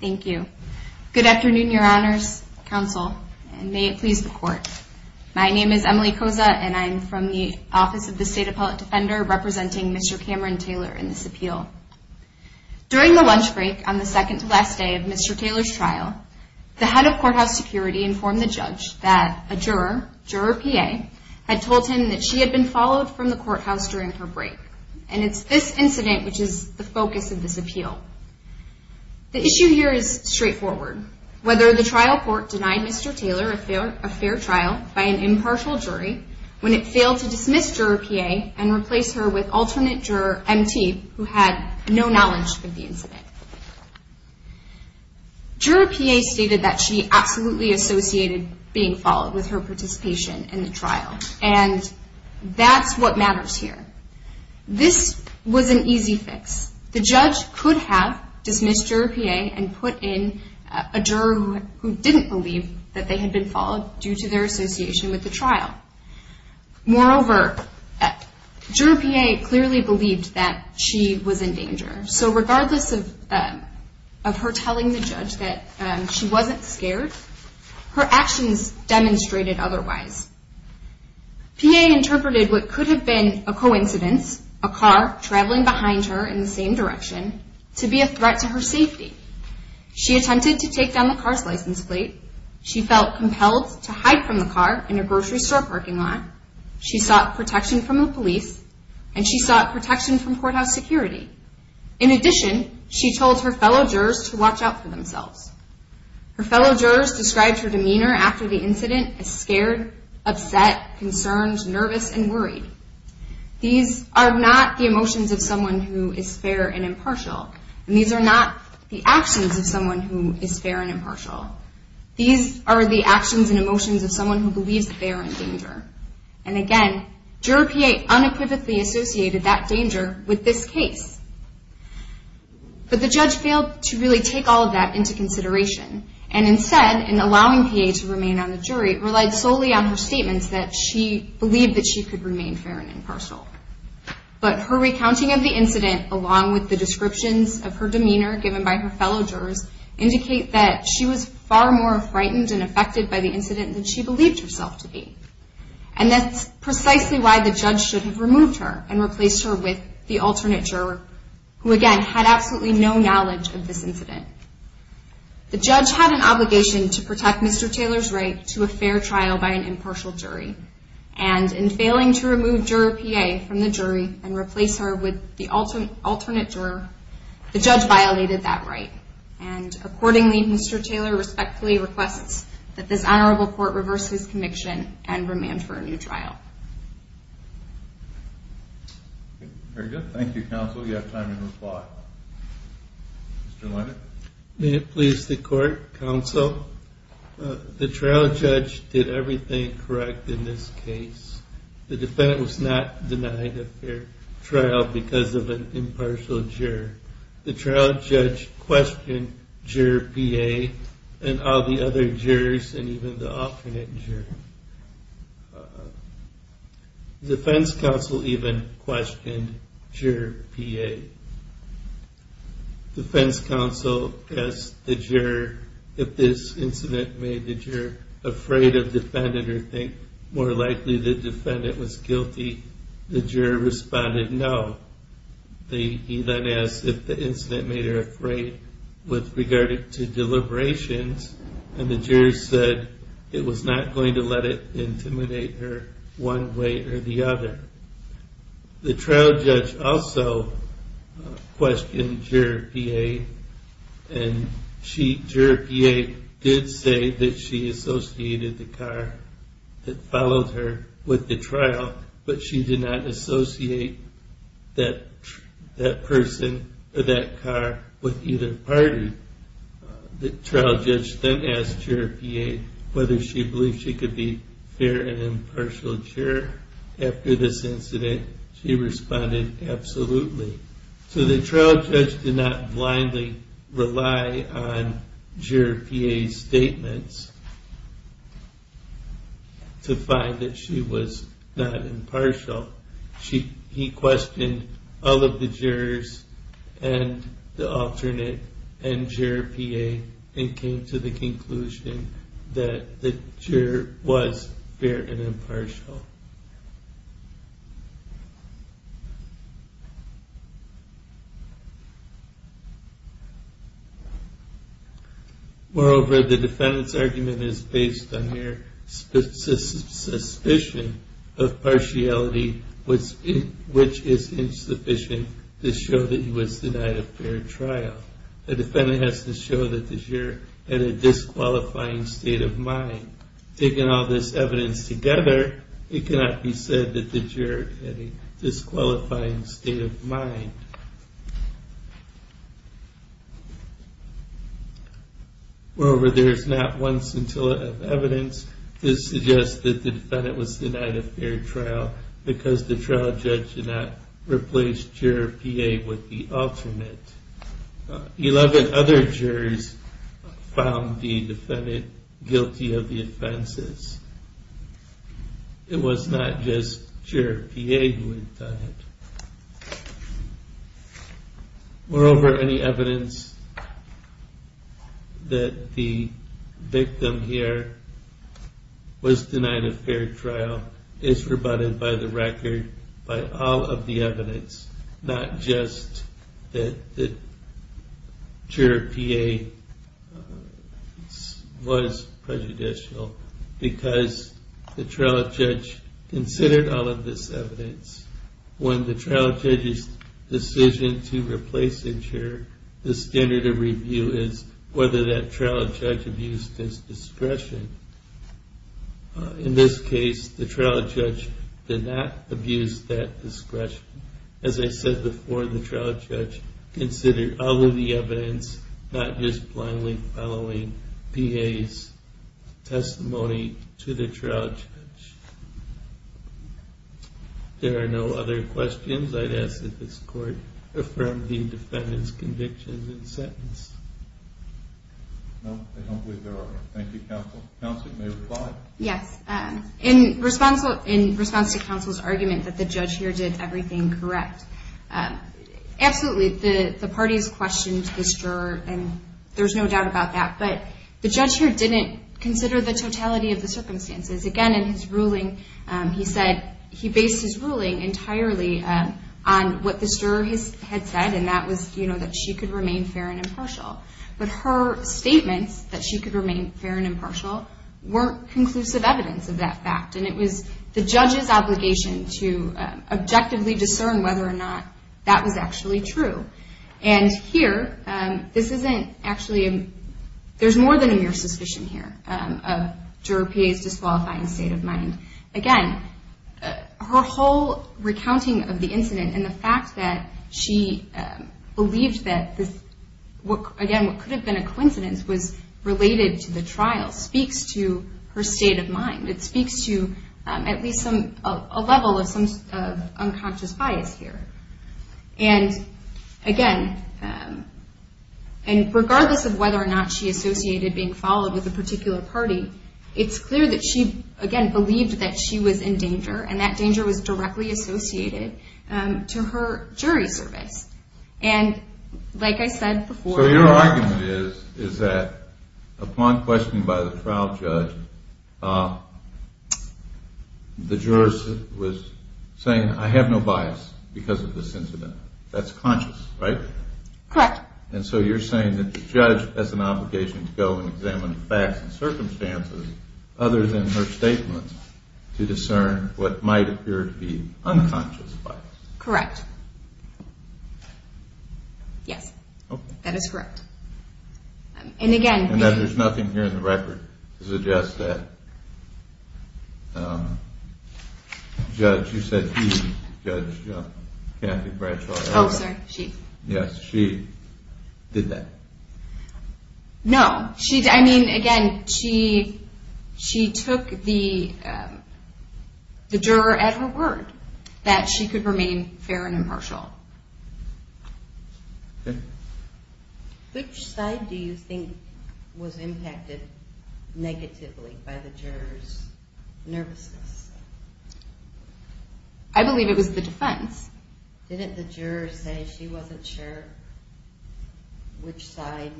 Thank you. Good afternoon, Your Honors, Counsel, and may it please the Court. My name is Emily Koza and I'm from the Office of the State Appellate Defender representing Mr. Cameron Taylor in this appeal. During the lunch break on the second to last day of Mr. Taylor's trial, the head of courthouse security informed the judge that a juror, Juror P.A., had told him that she had been followed from the courthouse during her break. And it's this incident which is the focus of this appeal. The issue here is straightforward. Whether the trial court denied Mr. Taylor a fair trial by an impartial jury when it failed to dismiss Juror P.A. and replace her with alternate juror M.T. who had no knowledge of the incident. Juror P.A. stated that she absolutely associated being followed with her participation in the trial. And that's what matters here. This was an easy fix. The judge could have dismissed Juror P.A. and put in a juror who didn't believe that they had been followed due to their association with the trial. Moreover, Juror P.A. clearly believed that she was in danger. So regardless of her telling the judge that she wasn't scared, her actions demonstrated otherwise. P.A. interpreted what could have been a coincidence, a car traveling behind her in the same direction, to be a threat to her safety. She attempted to take down the car's license plate. She felt compelled to hide from the car in a grocery store parking lot. She sought protection from the police and she sought protection from courthouse security. In addition, she told her fellow jurors to watch out for themselves. Her fellow jurors described her demeanor after the incident as scared, upset, concerned, nervous, and worried. These are not the emotions of someone who is fair and impartial. And these are not the actions of someone who is fair and impartial. These are the actions and emotions of someone who believes that they are in danger. And again, Juror P.A. unequivocally associated that danger with this case. But the judge failed to really take all of that into consideration. And instead, in allowing P.A. to remain on the jury, it relied solely on her statements that she believed that she could remain fair and impartial. But her recounting of the incident, along with the descriptions of her demeanor given by her fellow jurors, indicate that she was And that's precisely why the judge should have removed her and replaced her with the alternate juror, who again, had absolutely no knowledge of this incident. The judge had an obligation to protect Mr. Taylor's right to a fair trial by an impartial jury. And in failing to remove Juror P.A. from the jury and replace her with the alternate juror, the judge violated that right. And accordingly, Mr. Taylor respectfully requests that this defendant be remanded for a new trial. Very good. Thank you, counsel. You have time to reply. Mr. Lennart? May it please the court, counsel? The trial judge did everything correct in this case. The defendant was not denied a fair trial because of an impartial juror. The trial judge questioned Juror P.A. and all the other jurors and even the alternate juror. The defense counsel even questioned Juror P.A. The defense counsel asked the juror if this incident made the juror afraid of the defendant or think more likely the defendant was guilty. The jury said it was not going to let it intimidate her one way or the other. The trial judge also questioned Juror P.A. and Juror P.A. did say that she associated the car that followed her with the trial, but she did not associate that person or that car with either of them. The trial judge then asked Juror P.A. whether she believed she could be a fair and impartial juror. After this incident, she responded, absolutely. So the trial judge did not blindly rely on Juror P.A.'s statements to find that she was not impartial. He questioned all of the jurors and the alternate and Juror P.A. and came to the conclusion that the juror was fair and impartial. Moreover, the defendant's argument is based on her suspicion of partiality which is insufficient to show that he was denied a fair trial. The defendant has to show that the juror had a disqualifying state of mind. Taking all this evidence together, it cannot be said that the juror had a disqualifying state of mind. Moreover, there is not one piece of evidence to suggest that the defendant was denied a fair trial because the trial judge did not replace Juror P.A. with the alternate. Eleven other jurors found the defendant guilty of the offenses. It was not just Juror P.A. who had done it. Moreover, any evidence that the victim here was denied a fair trial is rebutted by the record, by all of the evidence, not just that Juror P.A. was prejudicial because the trial judge considered all of this evidence. When the trial judge's decision to replace a juror, the standard of review is whether that trial judge abused his discretion. In this case, the trial judge did not abuse that discretion. As I said before, the trial judge considered all of the evidence, not just blindly following P.A.'s testimony to the trial judge. There are no other pieces of evidence that the defendant was denied a fair trial. In response to counsel's argument that the judge here did everything correct, absolutely. The parties questioned this juror and there's no doubt about that. But the judge here didn't consider the totality of the circumstances. Again, in his ruling, he based his ruling entirely on what the juror had said, and that was that she could remain fair and impartial. But her statements, that she could remain fair and impartial, weren't conclusive evidence of that fact. It was the judge's obligation to objectively discern whether or not that was actually true. And here, there's more than a mere suspicion here of juror P.A.'s disqualifying state of mind. Again, her whole recounting of the incident and the fact that she believed that what could have been a coincidence was related to the trial speaks to her state of mind. It speaks to at least a level of unconscious bias here. And again, regardless of whether or not she associated being followed with a particular party, it's clear that she, again, believed that she was in danger and that danger was directly associated to her jury service. And like I said before... My question is that upon questioning by the trial judge, the juror was saying, I have no bias because of this incident. That's conscious, right? Correct. And so you're saying that the judge has an obligation to go and examine facts and circumstances other than her statements to discern what might appear to be unconscious bias. Correct. Yes, that is correct. And again... And that there's nothing here in the record to suggest that Judge, you said she, Judge Kathy Bradshaw... Oh, sorry. She. Yes, she did that. No. I mean, again, she took the juror at her word that she could remain fair and impartial. Which side do you think was impacted negatively by the juror's nervousness? I believe it was the defense. Didn't the juror say she wasn't sure which side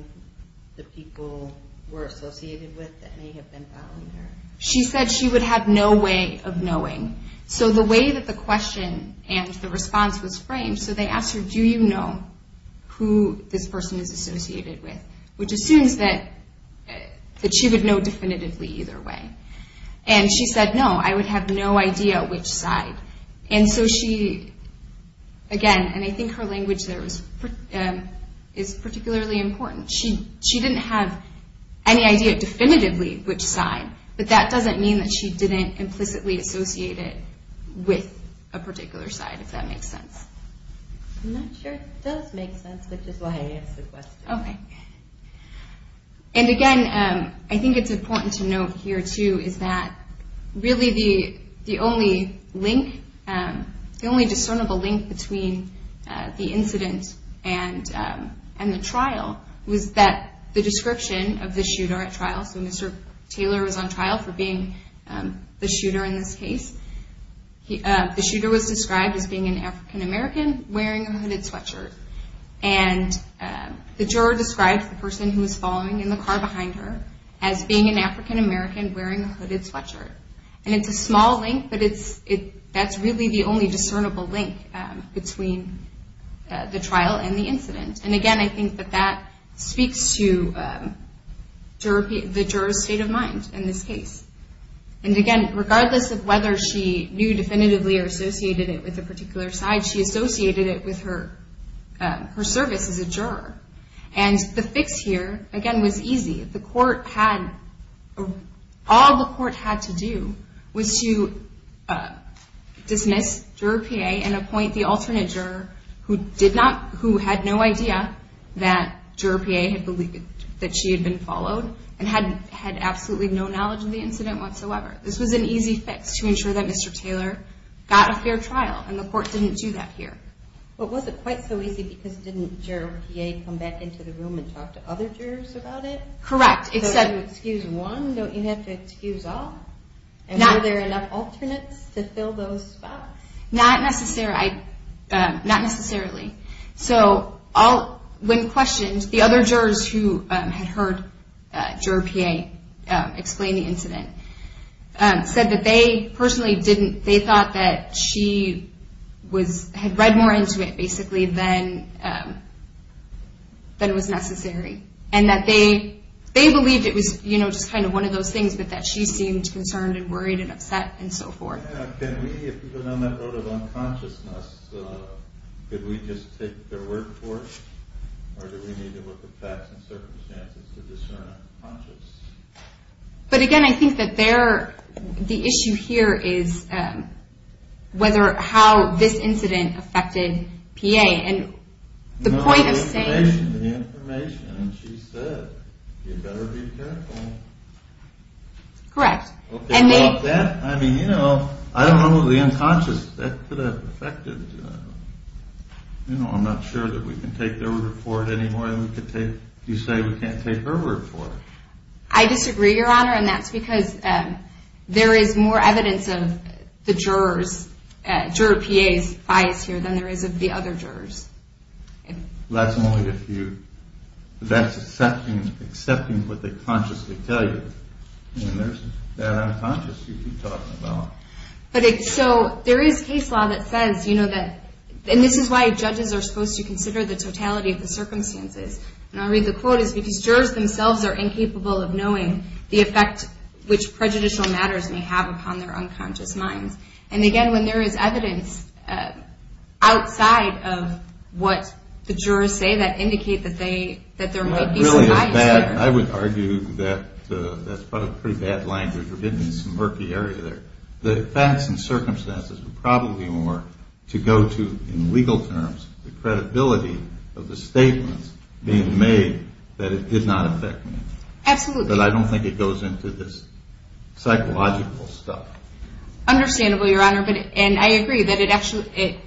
the people were associated with that may have been following her? She said she would have no way of knowing. So the way that the question and the response was framed, so they asked her, do you know who this person is associated with? Which assumes that she would know definitively either way. And she said, no, I would have no idea which side. And so she, again, and I think her language there is particularly important. She didn't have any idea definitively which side, but that doesn't mean that she didn't implicitly associate it with a particular side, if that makes sense. I'm not sure it does make sense, which is why I asked the question. Okay. And again, I think it's important to note here, too, is that really the only link, the only discernible link between the incident and the trial was that the description of the shooter in this case, the shooter was described as being an African American wearing a hooded sweatshirt. And the juror described the person who was following in the car behind her as being an African American wearing a hooded sweatshirt. And it's a small link, but that's really the only discernible link between the trial and the incident. And again, I think that that speaks to the juror's state of mind in this case. And again, regardless of whether she knew definitively or associated it with a particular side, she associated it with her service as a juror. And the fix here, again, was easy. The court had, all the court had to do was to dismiss juror PA and appoint the alternate juror who did not, who had no idea that juror PA had believed that she had been followed and had absolutely no knowledge of the incident whatsoever. This was an easy fix to ensure that Mr. Taylor got a fair trial. And the court didn't do that here. But was it quite so easy because didn't juror PA come back into the room and talk to other jurors about it? Correct, except... So to excuse one, don't you have to excuse all? And were there enough alternates to fill those spots? Not necessarily. So, when questioned, the other jurors who had heard juror PA say that they personally didn't, they thought that she was, had read more into it basically than it was necessary. And that they believed it was, you know, just kind of one of those things, but that she seemed concerned and worried and upset and so forth. Can we, if we've been on that road of unconsciousness, could we just take their word for it? Or do we take their word for it? But again, I think that they're, the issue here is whether, how this incident affected PA and the point of saying... No, the information, the information. And she said, you better be careful. Correct. Okay, well, that, I mean, you know, I don't know the unconscious, that could have affected, you know, I'm not sure that we can take their word for it anymore than we could take, you say we can't take her word for it. I disagree, Your Honor, and that's because there is more evidence of the jurors, juror PA's bias here than there is of the other jurors. That's only if you, that's accepting what they consciously tell you. I mean, there's that unconscious you keep talking about. But it, so, there is case law that says, you know, that, and this is why judges are supposed to consider the totality of the circumstances. And I read the quote, it's because jurors themselves are incapable of knowing the effect which prejudicial matters may have upon their unconscious minds. And again, when there is evidence outside of what the jurors say that indicate that they, that there might be some bias here. I would argue that that's probably pretty bad language. We're getting into some murky area there. The facts and circumstances are probably more to go to in legal terms, the Absolutely. But I don't think it goes into this psychological stuff. Understandably, Your Honor, and I agree that it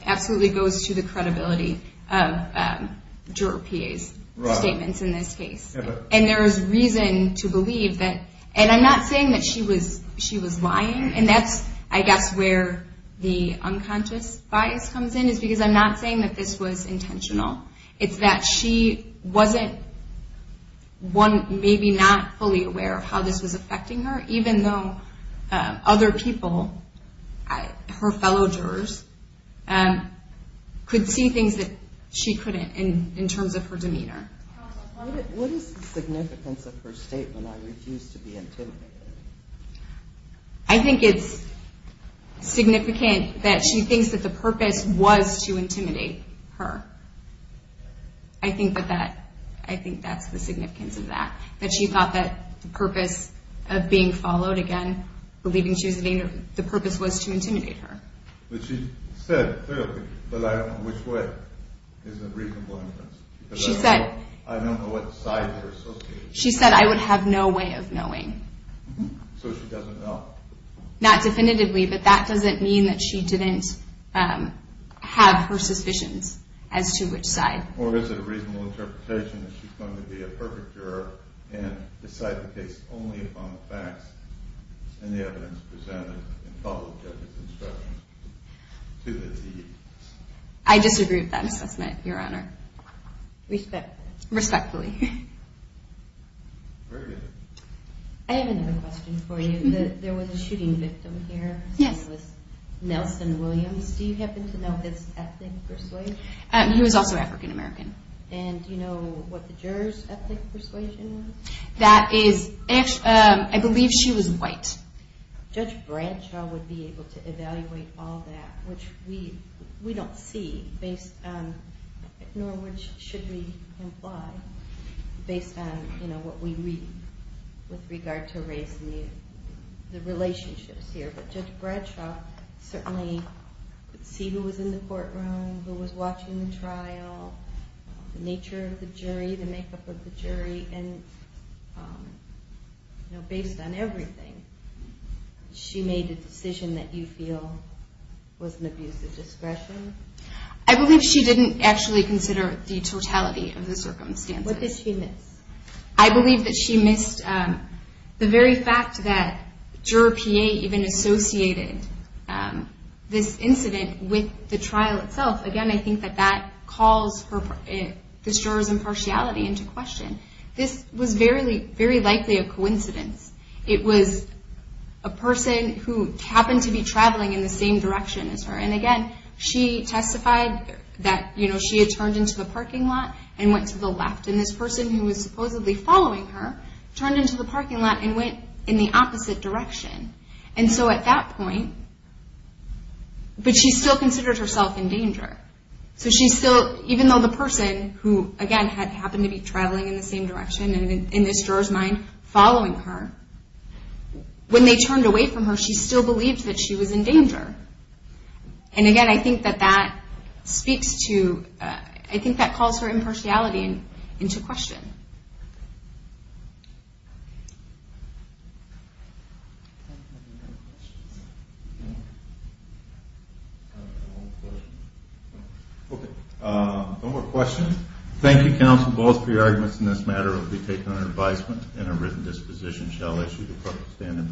absolutely goes to the credibility of juror PA's statements in this case. Right. And there is reason to believe that, and I'm not saying that she was lying, and that's I guess where the unconscious bias comes in, is because I'm not saying that this was one maybe not fully aware of how this was affecting her, even though other people, her fellow jurors, could see things that she couldn't in terms of her demeanor. Counsel, what is the significance of her statement, I refuse to be intimidated? I think it's significant that she thinks that the purpose was to intimidate her. I think that's the significance of that. That she thought that the purpose of being followed, again, believing she was a victim, the purpose was to intimidate her. But she said clearly, but I don't know which way is a reasonable inference. She said, I don't know what side you're associating. She said, I would have no way of knowing. So she doesn't know? Not definitively, but that doesn't mean that she didn't have her suspicions as to which side. Or is it a reasonable interpretation that she's going to be a perfect juror and decide the case only upon the facts and the evidence presented and follow the judge's instructions to the deed? I disagree with that assessment, Your Honor. Respectfully. Respectfully. Very good. I have another question for you. There was a shooting victim here. Yes. His name was Nelson Williams. Do you happen to know his ethnic persuasion? He was also African American. And do you know what the juror's ethnic persuasion was? That is, I believe she was white. Judge Bradshaw would be able to evaluate all that, which we don't see, nor should we imply, based on what we read with regard to race and the relationships here. But Judge Bradshaw certainly could see who was in the courtroom, who was watching the trial, the nature of the jury, the makeup of the jury, and based on everything, she made a decision that you feel was an abuse of discretion? I believe she didn't actually consider the totality of the circumstances. What did she miss? I believe that she missed the very fact that Juror PA even associated this incident with the trial itself. Again, I think that that calls the juror's impartiality into question. This was very likely a coincidence. It was a person who happened to be traveling in the same direction as her. And again, she testified that she had turned into the parking lot and went to the left. And this person who was supposedly following her turned into the parking lot and went in the opposite direction. And so at that point, but she still considered herself in danger. So she still, even though the person who, again, happened to be traveling in the same direction and in this juror's mind following her, when they turned away from her, she still believed that she was in danger. And again, I think that that speaks to, I think that calls her impartiality into question. Okay, one more question. Thank you, counsel, both for your arguments in this matter. It will be taken under advisement and a written disposition shall issue the proper standard.